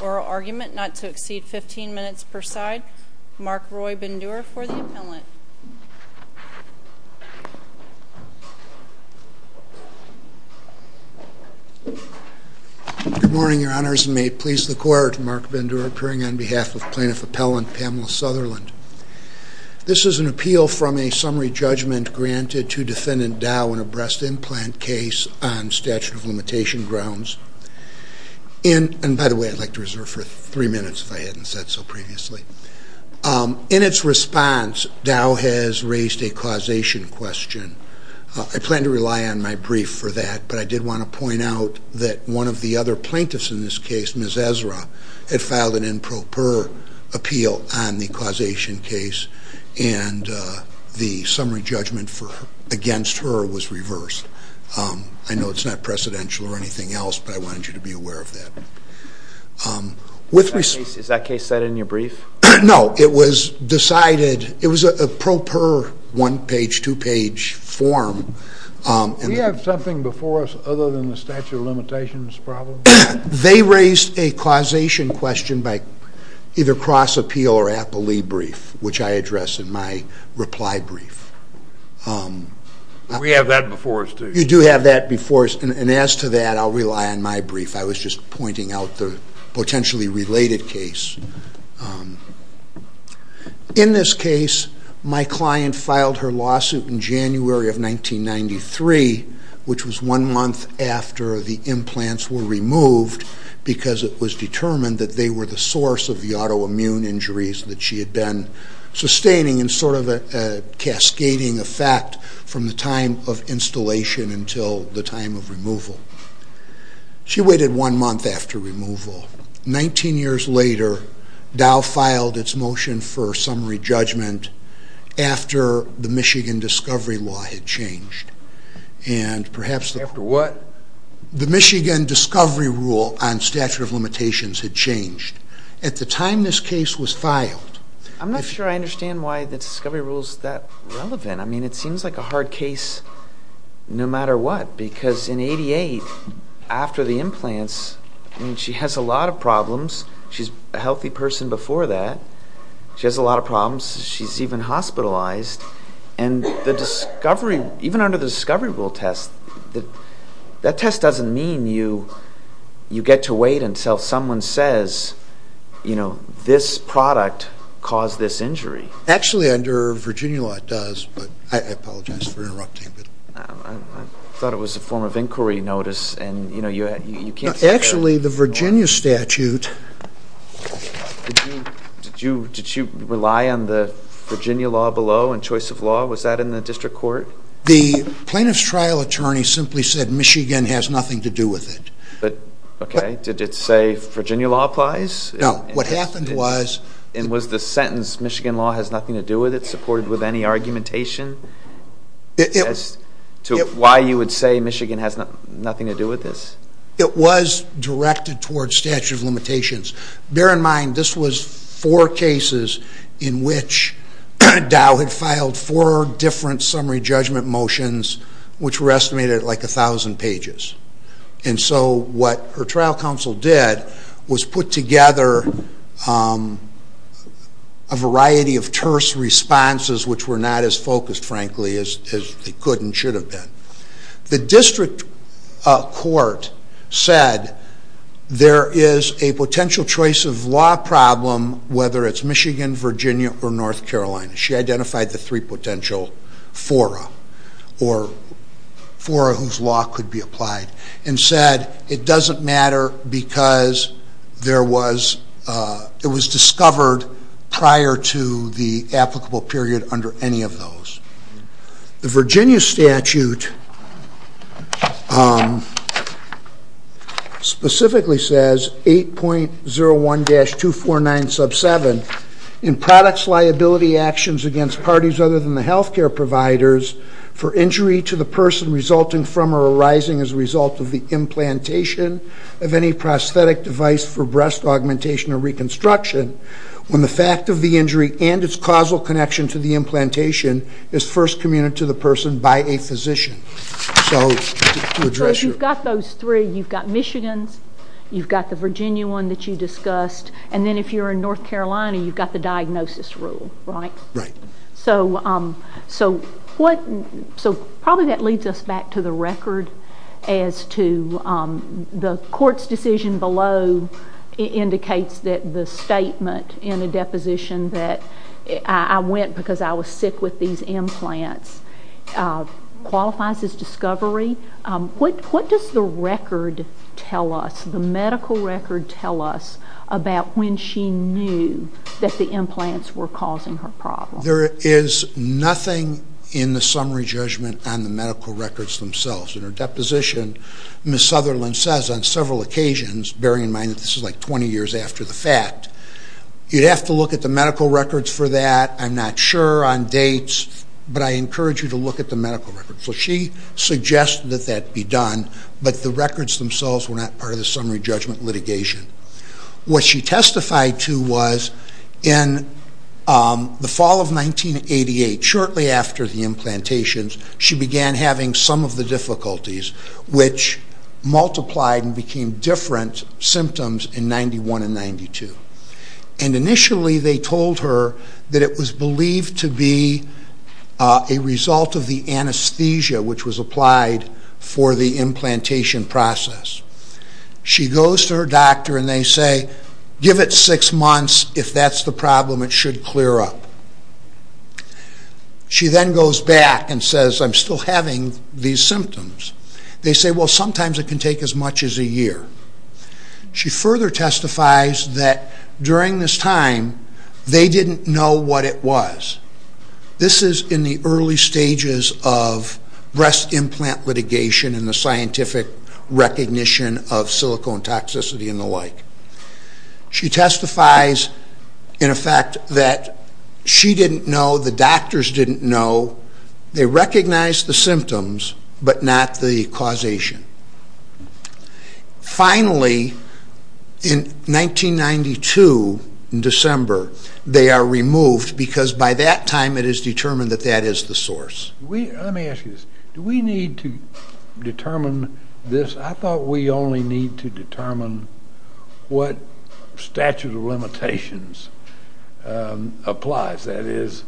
Oral argument not to exceed 15 minutes per side. Mark Roy Bindura for the appellant. Good morning, Your Honors, and may it please the Court, Mark Bindura appearing on behalf of Plaintiff Appellant Pamela Sutherland. This is an appeal from a summary judgment granted to Defendant Dow in a breast implant case on statute of limitation grounds. In its response, Dow has raised a causation question. I plan to rely on my brief for that, but I did want to point out that one of the other plaintiffs in this case, Ms. Ezra, had filed an improper appeal on the causation case, and the summary judgment against her was reversed. I know it's not precedential or anything else, but I wanted you to be aware of that. Is that case cited in your brief? No, it was decided, it was a proper one-page, two-page form. Do you have something before us other than the statute of limitations problem? They raised a causation question by either cross-appeal or appellee brief, which I address in my reply brief. We have that before us, too. You do have that before us, and as to that, I'll rely on my brief. I was just pointing out the potentially related case. In this case, my client filed her lawsuit in January of 1993, which was one month after the implants were removed, because it was determined that they were the source of the autoimmune injuries that she had been sustaining, and sort of a cascading effect from the time of installation until the time of removal. She waited one month after removal. Nineteen years later, Dow filed its motion for summary judgment after the Michigan discovery law had changed. After what? The Michigan discovery rule on statute of limitations had changed. At the time this case was filed... I'm not sure I understand why the discovery rule is that relevant. I mean, it seems like a hard case no matter what, because in 1988, after the implants, I mean, she has a lot of problems. She's a healthy person before that. She has a lot of problems. She's even hospitalized, and even under the discovery rule test, that test doesn't mean you get to wait until someone says, you know, this product caused this injury. Actually, under Virginia law, it does, but I apologize for interrupting. I thought it was a form of inquiry notice, and, you know, you can't... Actually, the Virginia statute... Did you rely on the Virginia law below in choice of law? Was that in the district court? The plaintiff's trial attorney simply said Michigan has nothing to do with it. But, okay, did it say Virginia law applies? No. What happened was... And was the sentence, Michigan law has nothing to do with it, supported with any argumentation as to why you would say Michigan has nothing to do with this? It was directed towards statute of limitations. Bear in mind, this was four cases in which Dow had filed four different summary judgment motions, which were estimated at like a thousand pages. And so what her trial counsel did was put together a variety of terse responses, which were not as focused, frankly, as they could and should have been. The district court said there is a potential choice of law problem, whether it's Michigan, Virginia, or North Carolina. She identified the three potential fora, or fora whose law could be applied, and said it doesn't matter because it was discovered prior to the applicable period under any of those. The Virginia statute specifically says 8.01-249 sub 7, in products liability actions against parties other than the healthcare providers, for injury to the person resulting from or arising as a result of the implantation of any prosthetic device for breast augmentation or reconstruction, when the fact of the injury and its causal connection to the implantation is first communed to the person by a physician. So if you've got those three, you've got Michigan's, you've got the Virginia one that you discussed, and then if you're in North Carolina, you've got the diagnosis rule, right? So probably that leads us back to the record as to the court's decision below indicates that the statement in the deposition that I went because I was sick with these implants qualifies as discovery. What does the record tell us, the medical record tell us about when she knew that the implants were causing her problem? There is nothing in the summary judgment on the medical records themselves. In her deposition, Ms. Sutherland says on several occasions, bearing in mind that this is like 20 years after the fact, you'd have to look at the medical records for that, I'm not sure, on dates, but I encourage you to look at the medical records. So she suggested that that be done, but the records themselves were not part of the summary judgment litigation. What she testified to was in the fall of 1988, shortly after the implantations, she began having some of the difficulties, which multiplied and became different symptoms in 91 and 92. And initially they told her that it was believed to be a result of the anesthesia which was applied for the implantation process. She goes to her doctor and they say, give it six months, if that's the problem it should clear up. She then goes back and says, I'm still having these symptoms. They say, well sometimes it can take as much as a year. She further testifies that during this time, they didn't know what it was. This is in the early stages of breast implant litigation and the scientific recognition of silicone toxicity and the like. She testifies, in effect, that she didn't know, the doctors didn't know, they recognized the symptoms, but not the causation. Finally, in 1992, in December, they are removed because by that time it is determined that that is the source. Let me ask you this. Do we need to determine this? I thought we only need to determine what statute of limitations applies. That is,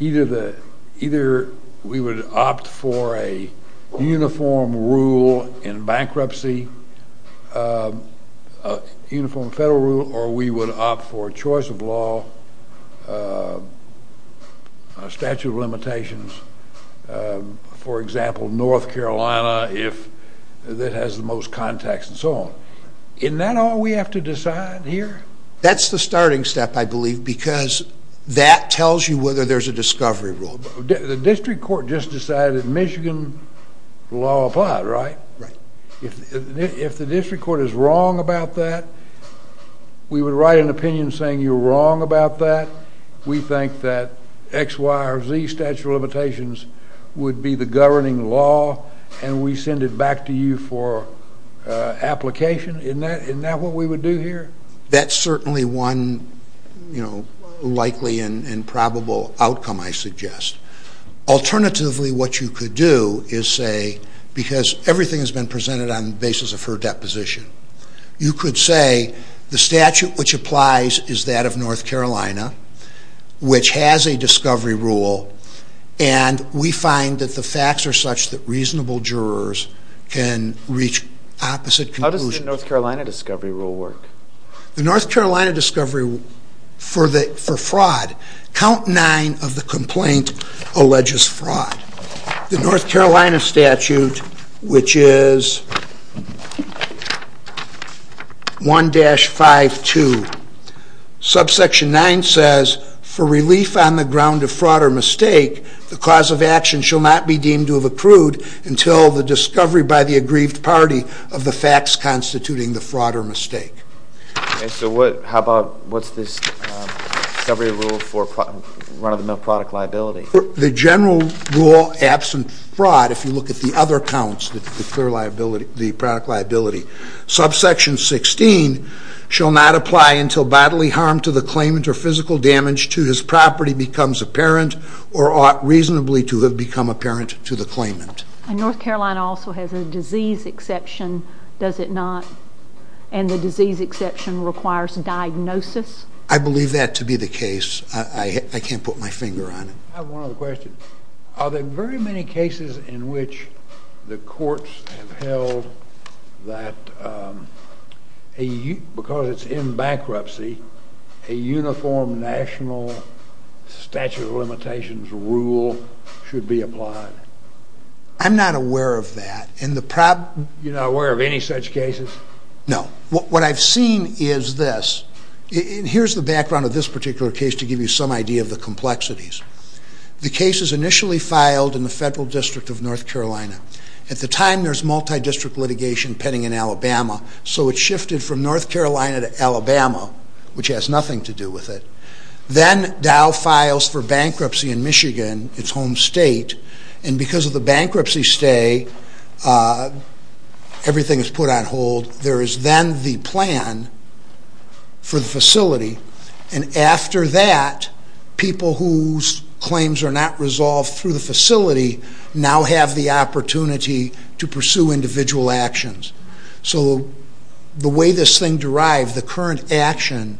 either we would opt for a uniform rule in bankruptcy, uniform federal rule, or we would opt for a choice of law, a statute of limitations, for example, North Carolina, if that has the most contacts and so on. Isn't that all we have to decide here? That's the starting step, I believe, because that tells you whether there's a discovery rule. The district court just decided Michigan law applied, right? Right. If the district court is wrong about that, we would write an opinion saying you're wrong about that. We think that X, Y, or Z statute of limitations would be the governing law, and we send it back to you for application. Isn't that what we would do here? That's certainly one likely and probable outcome, I suggest. Alternatively, what you could do is say, because everything has been presented on the basis of her deposition, you could say the statute which applies is that of North Carolina, which has a discovery rule, and we find that the facts are such that reasonable jurors can reach opposite conclusions. How does the North Carolina discovery rule work? The North Carolina discovery rule, for fraud, count nine of the complaint alleges fraud. The North Carolina statute, which is 1-52, subsection 9 says, for relief on the ground of fraud or mistake, the cause of action shall not be deemed to have accrued until the discovery by the aggrieved party of the facts constituting the fraud or mistake. And so what's this discovery rule for run-of-the-mill product liability? The general rule absent fraud, if you look at the other counts, the product liability, subsection 16 shall not apply until bodily harm to the claimant or physical damage to his property becomes apparent or ought reasonably to have become apparent to the claimant. And North Carolina also has a disease exception, does it not? And the disease exception requires diagnosis? I believe that to be the case. I can't put my finger on it. I have one other question. Are there very many cases in which the courts have held that because it's in bankruptcy, a uniform national statute of limitations rule should be applied? I'm not aware of that. You're not aware of any such cases? No. What I've seen is this, and here's the background of this particular case to give you some idea of the complexities. The case is initially filed in the federal district of North Carolina. At the time, there's multi-district litigation pending in Alabama, so it shifted from North Carolina to Alabama, which has nothing to do with it. Then Dow files for bankruptcy in because of the bankruptcy stay, everything is put on hold. There is then the plan for the facility, and after that, people whose claims are not resolved through the facility now have the opportunity to pursue individual actions. So the way this thing derived, the current action,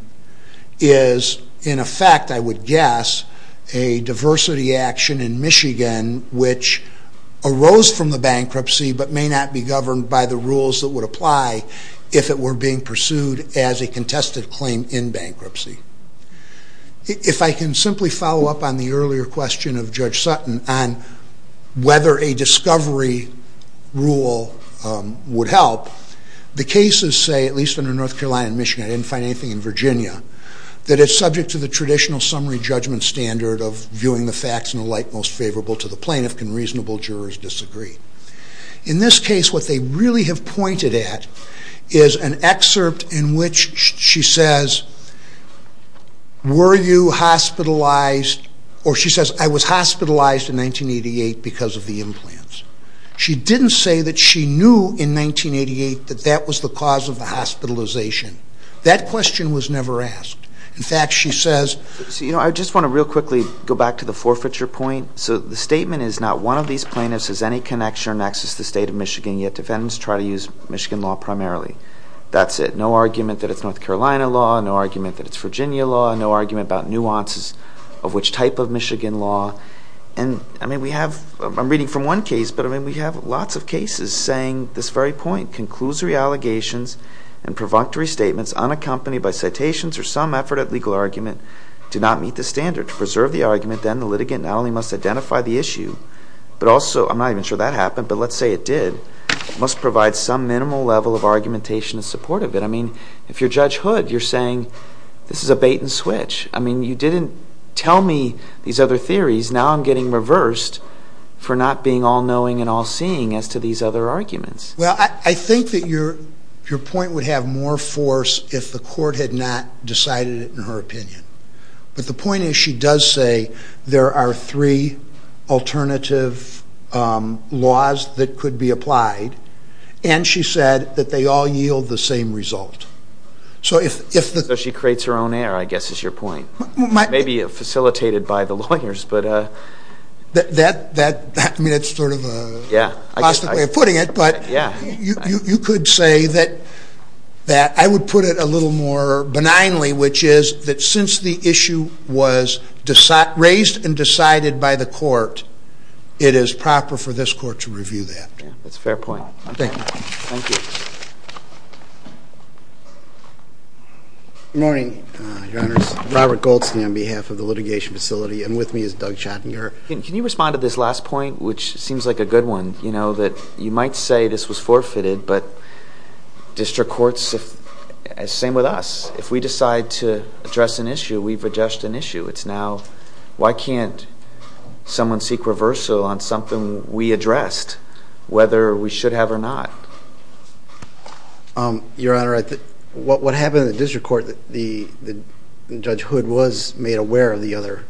is in effect, I would guess, a diversity action in Michigan which arose from the bankruptcy but may not be governed by the rules that would apply if it were being pursued as a contested claim in bankruptcy. If I can simply follow up on the earlier question of Judge Sutton on whether a discovery rule would help, the cases say, at least under North Carolina and Michigan, I didn't find anything in Virginia, that it's subject to the traditional summary judgment standard of viewing the facts in the light most favorable to the plaintiff. Can reasonable jurors disagree? In this case, what they really have pointed at is an excerpt in which she says, were you hospitalized, or she says, I was hospitalized in 1988 because of the implants. She didn't say that she knew in 1988 that that was the cause of the hospitalization. That question was never asked. In fact, she says, I just want to real quickly go back to the forfeiture point. So the statement is, not one of these plaintiffs has any connection or nexus to the state of Michigan, yet defendants try to use Michigan law primarily. That's it. No argument that it's North Carolina law, no argument that it's Virginia law, no argument about nuances of which type of Michigan law. I mean, we have, I'm reading from one case, but I mean, we have lots of cases saying this very point, conclusory allegations and provocatory statements unaccompanied by citations or some effort at legal argument do not meet the standard. To preserve the argument, then the litigant not only must identify the issue, but also, I'm not even sure that happened, but let's say it did, must provide some minimal level of argumentation in support of it. I mean, if you're Judge Hood, you're saying, this is a bait and switch. I mean, you didn't tell me these other theories. Now I'm getting reversed for not being all-knowing and all-seeing as to these other arguments. Well, I think that your point would have more force if the court had not decided it in her opinion. But the point is, she does say there are three alternative laws that could be applied, and she said that they all yield the same result. So if the... So she creates her own error, I guess, is your point. Maybe facilitated by the lawyers, but... I mean, that's sort of a... Yeah. Plastic way of putting it, but you could say that I would put it a little more benignly, which is that since the issue was raised and decided by the court, it is proper for this court to review that. Yeah, that's a fair point. Okay. Thank you. Good morning, Your Honors. Robert Goldstein on behalf of the litigation facility, and with me is Doug Schottinger. Can you respond to this last point, which seems like a good one, that you might say this was forfeited, but district courts... Same with us. If we decide to address an issue, we've addressed an issue. It's now, why can't someone seek reversal on something we addressed, whether we should have or not? Your Honor, what happened in the district court, the Judge Hood was made aware of the other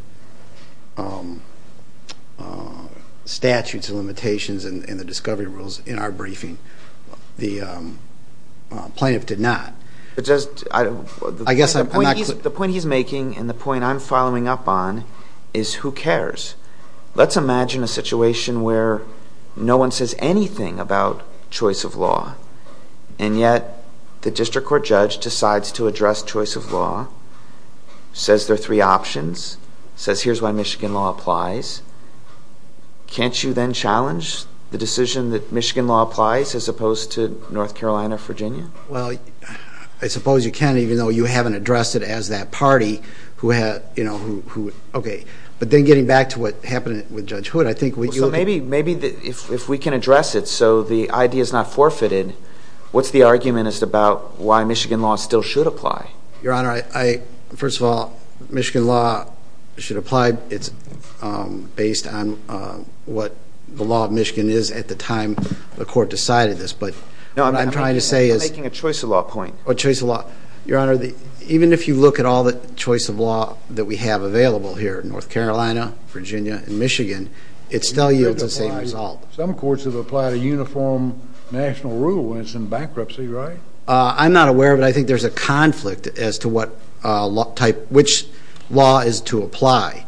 statutes and limitations and the discovery rules in our briefing. The plaintiff did not. I guess I'm not... The point he's making, and the point I'm following up on, is who cares? Let's imagine a situation where no one says anything about choice of law, and yet the district court judge decides to address choice of law, says there are three options, says here's why Michigan law applies. Can't you then challenge the decision that Michigan law applies as opposed to North Carolina, Virginia? Well, I suppose you can even though you haven't addressed it as that party who had... Okay, but then getting back to what happened with Judge Hood, I think... Well, so maybe if we can address it so the idea is not forfeited, what's the argument as to about why Michigan law still should apply? Your Honor, first of all, Michigan law should apply. It's based on what the law of Michigan is at the time the court decided this, but what I'm trying to say is... No, I'm making a choice of law point. A choice of law. Your Honor, even if you look at all the choice of law that we have available here, North Carolina, Virginia, and Michigan, it still yields the same result. Some courts have applied a uniform national rule when it's in bankruptcy, right? I'm not aware of it. I think there's a conflict as to which law is to apply.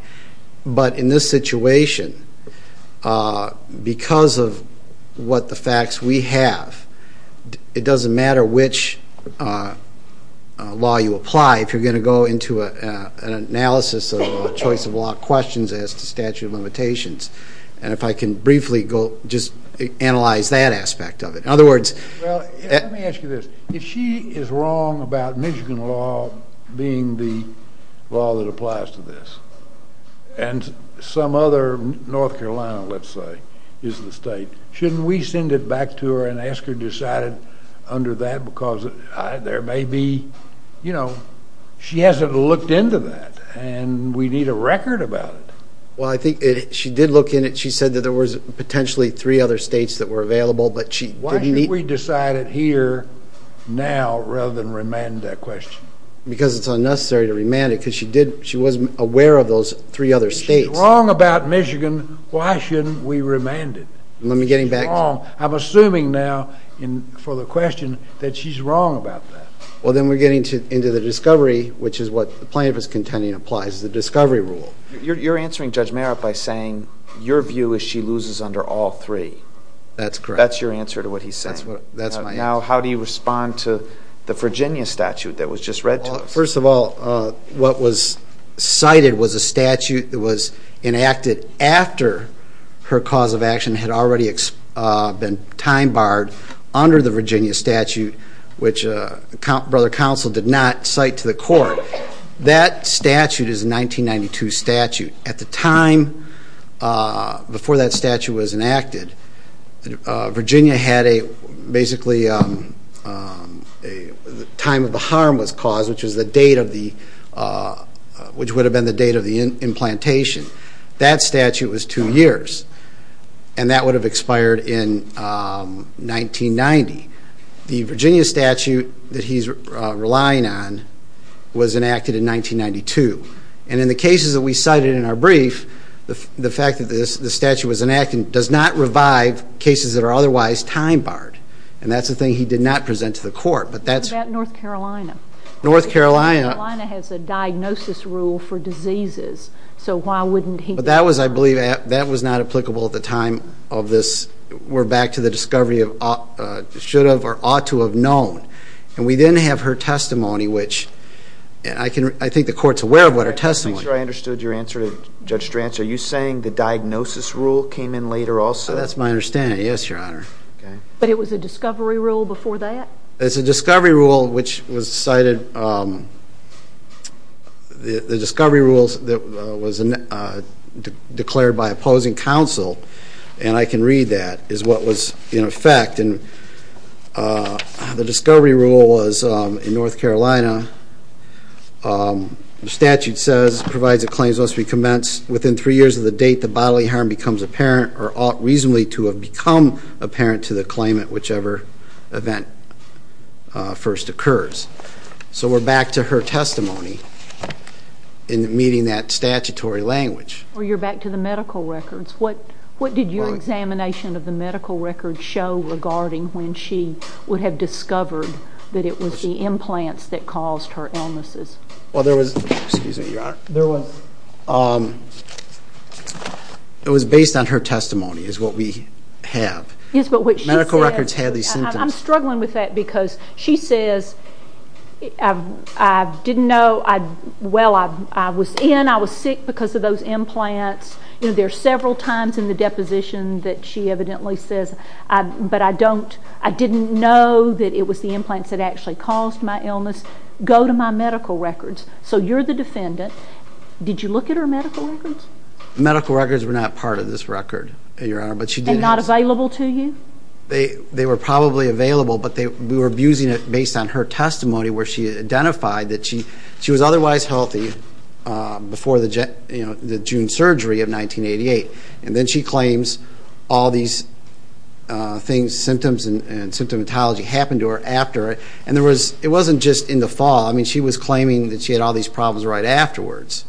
But in this situation, because of what the facts we have, it doesn't go into an analysis of choice of law questions as to statute of limitations. And if I can briefly just analyze that aspect of it. In other words... Well, let me ask you this. If she is wrong about Michigan law being the law that applies to this, and some other... North Carolina, let's say, is the state. Shouldn't we send it back to her and decide under that? Because there may be... She hasn't looked into that, and we need a record about it. Well, I think she did look in it. She said that there were potentially three other states that were available, but she didn't... Why should we decide it here now rather than remand that question? Because it's unnecessary to remand it, because she wasn't aware of those three other states. If she's wrong about Michigan, why shouldn't we remand it? Let me get him back... I'm assuming now, for the question, that she's wrong about that. Well, then we're getting into the discovery, which is what plaintiff is contending applies, the discovery rule. You're answering Judge Merritt by saying, your view is she loses under all three. That's correct. That's your answer to what he's saying. That's my answer. Now, how do you respond to the Virginia statute that was just read to us? First of all, what was cited was a statute that was enacted after her cause of action had already been time barred under the Virginia statute, which Brother Counsel did not cite to the court. That statute is a 1992 statute. At the time before that statute was enacted, Virginia had basically a time of the harm was caused, which would have been the date of the implantation. That statute was two years, and that would have expired in 1990. The Virginia statute that he's relying on was enacted in 1992. And in the cases that we cited in our brief, the fact that the statute was enacted does not revive cases that are otherwise time barred. And that's the thing he did not present to the court. What about North Carolina? North Carolina. North Carolina has a diagnosis rule for diseases, so why wouldn't he? But that was, I believe, that was not applicable at the time of this. We're back to the discovery of should have or ought to have known. And we then have her testimony, which I think the court's aware of what her testimony is. I'm sure I understood your answer to are you saying the diagnosis rule came in later also? That's my understanding. Yes, Your Honor. But it was a discovery rule before that? It's a discovery rule which was cited. The discovery rules that was declared by opposing counsel, and I can read that, is what was in effect. And the discovery rule was in North Carolina, the statute says, provides that claims must be convinced within three years of the date the bodily harm becomes apparent or ought reasonably to have become apparent to the claimant, whichever event first occurs. So we're back to her testimony in meeting that statutory language. Or you're back to the medical records. What did your examination of the medical records show regarding when she would have discovered that it was the implants that caused her illnesses? Well, there was... Excuse me, Your Honor. There was... It was based on her testimony is what we have. Yes, but what she said... Medical records had these symptoms. I'm struggling with that because she says, I didn't know, well, I was in, I was sick because of those implants. There are several times in the deposition that she evidently says, but I don't, I didn't know that it was the implants that actually caused my illness. Go to my medical records. So you're the defendant. Did you look at her medical records? Medical records were not part of this record, Your Honor, but she did... And not available to you? They were probably available, but we were abusing it based on her testimony where she identified that she was otherwise healthy before the June surgery of 1988. And then she claims all these things, symptoms and symptomatology happened to her after. And there was, it wasn't just in the fall. I mean, she was claiming that she had all these problems right afterwards.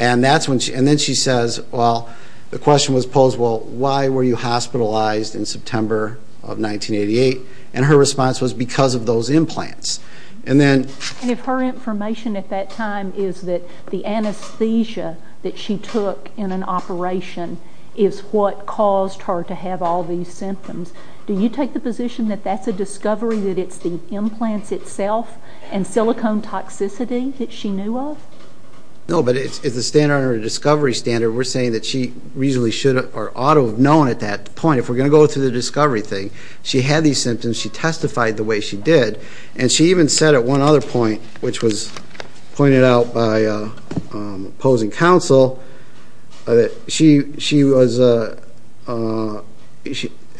And that's when she, and then she says, well, the question was posed, well, why were you hospitalized in September of 1988? And her response was because of those implants. And then... And if her information at that time is that the anesthesia that she took in an operation is what caused her to have all these symptoms, do you take the position that that's a discovery, that it's the implants itself and silicone toxicity that she knew of? No, but it's a standard or a discovery standard. We're saying that she reasonably should or ought to have known at that point. If we're going to go through the discovery thing, she had these symptoms. She testified the way she did. And she even said at one other point, which was pointed out by opposing counsel, that she was...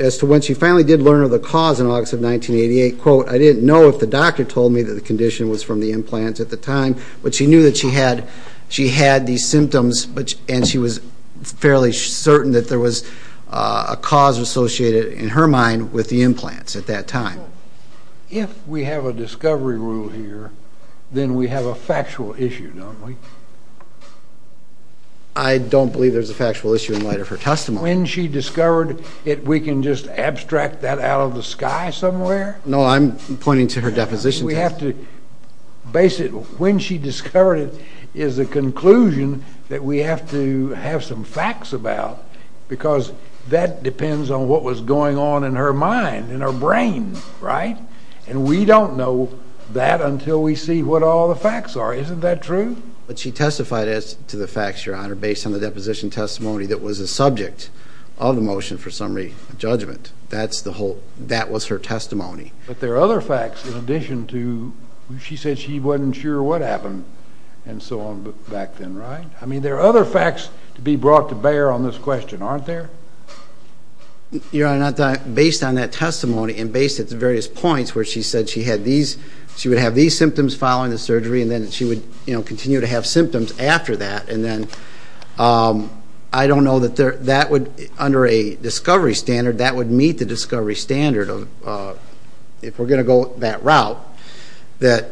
As to when she finally did learn of the cause in August of 1988, quote, I didn't know if the doctor told me that the condition was from the implants at the time, but she knew that she had these symptoms and she was fairly certain that there was a cause associated in her mind with the implants at that time. If we have a discovery rule here, then we have a factual issue, don't we? I don't believe there's a factual issue in light of her testimony. When she discovered it, we can just abstract that out of the sky somewhere? No, I'm pointing to her deposition. We have to... When she discovered it is a conclusion that we have to have some facts about, because that depends on what was going on in her mind, in her brain, right? And we don't know that until we see what all the facts are. Isn't that true? But she testified as to the facts, Your Honor, based on the deposition testimony that was a subject of the motion for summary judgment. That's the whole... That was her testimony. But there are other facts in addition to... She said she wasn't sure what happened and so on back then, right? I mean, there are other facts to be brought to bear on this question, aren't there? Your Honor, based on that testimony and based at the various points where she said she had these... She would have these symptoms following the surgery and then she would continue to have symptoms after that. And then I don't know that that would... Under a discovery standard, that would meet the discovery standard of... If we're going to go that route, that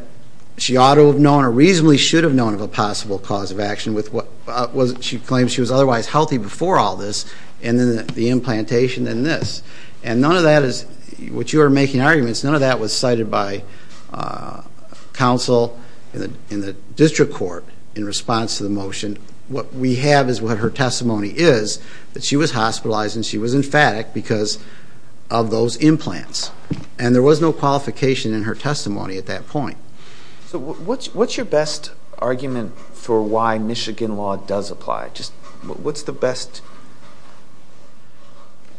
she ought to have known or reasonably should have known of a possible cause of action with what... She claims she was otherwise healthy before all this and then the implantation and this. And none of that is... What you are making arguments, none of that was cited by counsel in the district court in response to the motion. What we have is what her testimony is, that she was hospitalized and she was emphatic because of those implants. And there was no qualification in her testimony at that point. So what's your best argument for why Michigan law does apply? Just what's the best...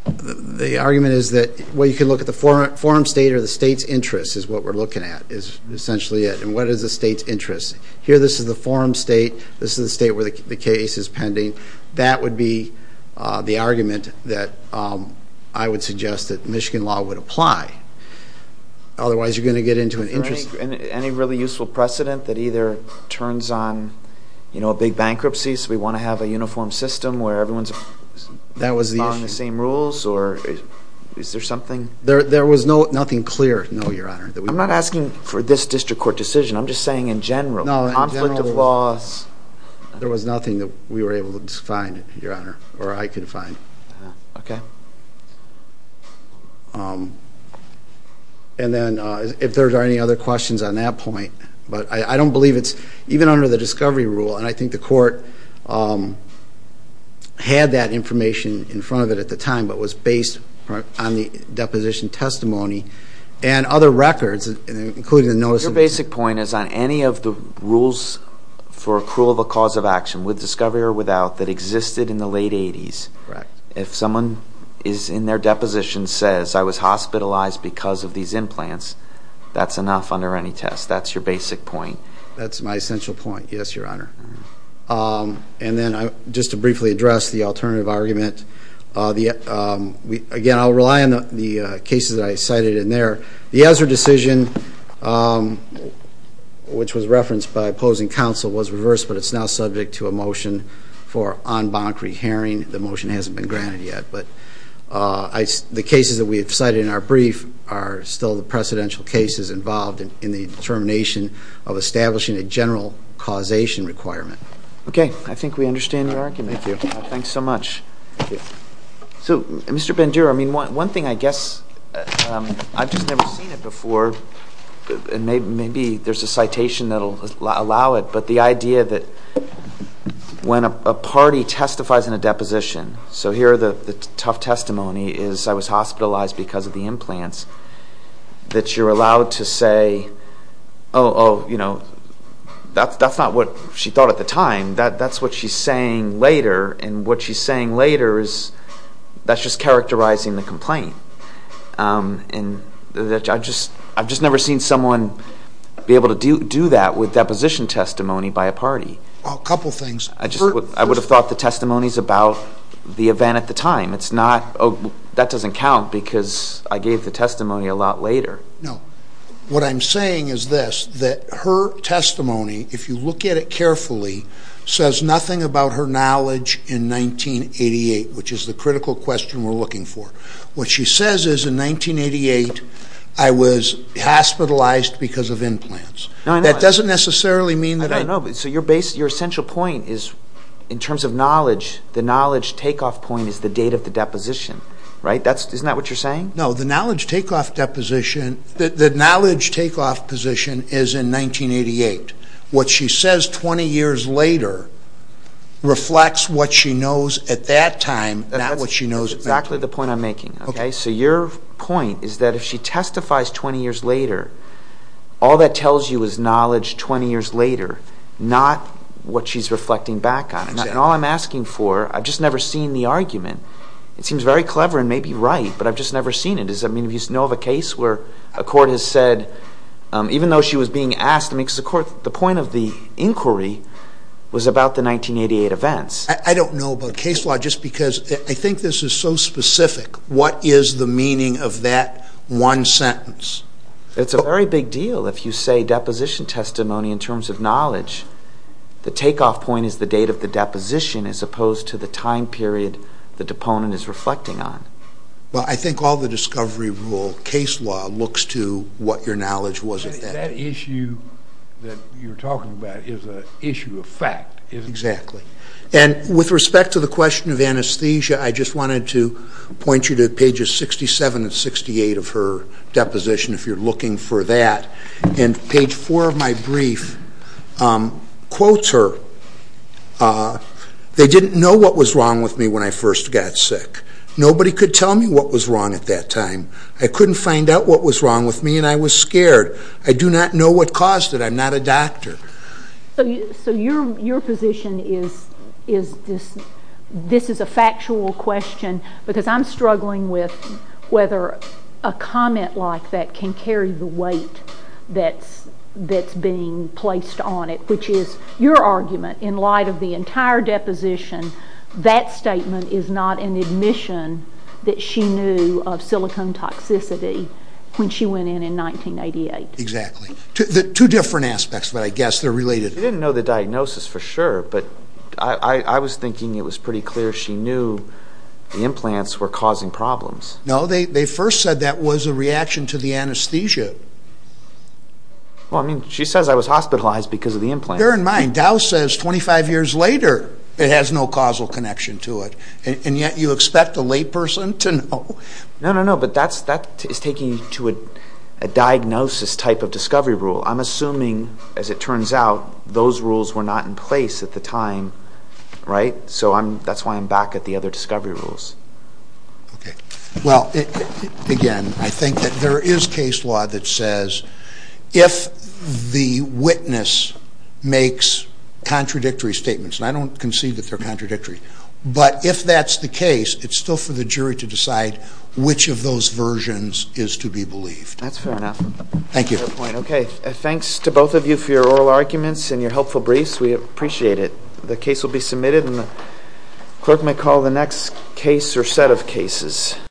The argument is that, well, you can look at the forum state or the state's interest is what we're looking at, is essentially it. And what is the state's interest? Here, this is the forum state, this is the state where the case is pending. That would be the argument that I would suggest that Michigan law would apply. Otherwise, you're going to get into an interest... Any really useful precedent that either turns on a big bankruptcy, so we want to have a uniform system where everyone's following the same rules or is there something? There was nothing clear, no, Your Honor, that we... I'm not asking for this district court decision, I'm just saying in general, conflict of laws... There was nothing that we were able to find, Your Honor, or I could find. Okay. And then if there are any other questions on that point, but I don't believe it's even under the discovery rule, and I think the court had that information in front of it at the time, but was based on the deposition testimony and other records, including the notice... So your basic point is on any of the rules for accrual of a cause of action, with discovery or without, that existed in the late 80s, if someone is in their deposition says, I was hospitalized because of these implants, that's enough under any test. That's your basic point. That's my essential point, yes, Your Honor. And then just to briefly address the alternative argument, again, I'll rely on the cases that I cited in there. The Ezra decision, which was referenced by opposing counsel, was reversed, but it's now subject to a motion for en banc rehearing. The motion hasn't been granted yet, but the cases that we have cited in our brief are still the precedential cases involved in the determination of establishing a general causation requirement. Okay. I think we understand your argument. Thank you. Thanks so much. Thank you. So, Mr. Bandura, I mean, one thing I guess, I've just never seen it before, and maybe there's a citation that will allow it, but the idea that when a party testifies in a deposition, so here the tough testimony is, I was hospitalized because of the implants, that you're allowed to say, oh, you know, that's not what she thought at the time, that's what she's saying later, and what she's saying later is that's just characterizing the complaint. I've just never seen someone be able to do that with deposition testimony by a party. A couple things. I would have thought the testimony is about the event at the time. That doesn't count because I gave the testimony a lot later. No. What I'm saying is this, that her testimony, if you look at it carefully, says nothing about her knowledge in 1988, which is the critical question we're looking for. What she says is in 1988, I was hospitalized because of implants. No, I know. That doesn't necessarily mean that... I don't know. So your essential point is, in terms of knowledge, the knowledge takeoff point is the date of the deposition, right? Isn't that what you're saying? No, the knowledge takeoff position is in 1988. What she says 20 years later reflects what she knows at that time, not what she knows at that time. That's exactly the point I'm making. So your point is that if she testifies 20 years later, all that tells you is knowledge 20 years later, not what she's reflecting back on. All I'm asking for, I've just never seen the argument. It seems very clever and maybe right, but I've just never seen it. I mean, do you know of a case where a court has said, even though she was being asked... I mean, the point of the inquiry was about the 1988 events. I don't know about case law, just because I think this is so specific. What is the meaning of that one sentence? It's a very big deal if you say deposition testimony in terms of knowledge. The takeoff point is the date of the deposition as opposed to the time period the deponent is reflecting on. Well, I think all the discovery rule case law looks to what your knowledge was at that time. That issue that you're talking about is an issue of fact, isn't it? Exactly. And with respect to the question of anesthesia, I just wanted to point you to pages 67 and 68 of her deposition if you're looking for that. And page four of my brief quotes her, uh, they didn't know what was wrong with me when I first got sick. Nobody could tell me what was wrong at that time. I couldn't find out what was wrong with me and I was scared. I do not know what caused it. I'm not a doctor. So your position is this is a factual question, because I'm struggling with whether a comment like that can carry the weight that's being placed on it, which is your argument in light of the entire deposition, that statement is not an admission that she knew of silicone toxicity when she went in in 1988. Exactly. Two different aspects, but I guess they're related. She didn't know the diagnosis for sure, but I was thinking it was pretty clear she knew the implants were causing problems. No, they first said that was a reaction to the anesthesia. Well, I mean, she says I was hospitalized because of the implant. Bear in mind, Dow says 25 years later it has no causal connection to it, and yet you expect a layperson to know? No, no, no, but that's that is taking you to a diagnosis type of discovery rule. I'm assuming, as it turns out, those rules were not in place at the time, right? So I'm that's why I'm back at the other discovery rules. Okay, well, again, I think that there is case law that says if the witness makes contradictory statements, and I don't concede that they're contradictory, but if that's the case, it's still for the jury to decide which of those versions is to be believed. That's fair enough. Thank you. Okay, thanks to both of you for your oral arguments and your helpful briefs. We appreciate it. The case will be submitted, and the clerk may call the next case or set of cases.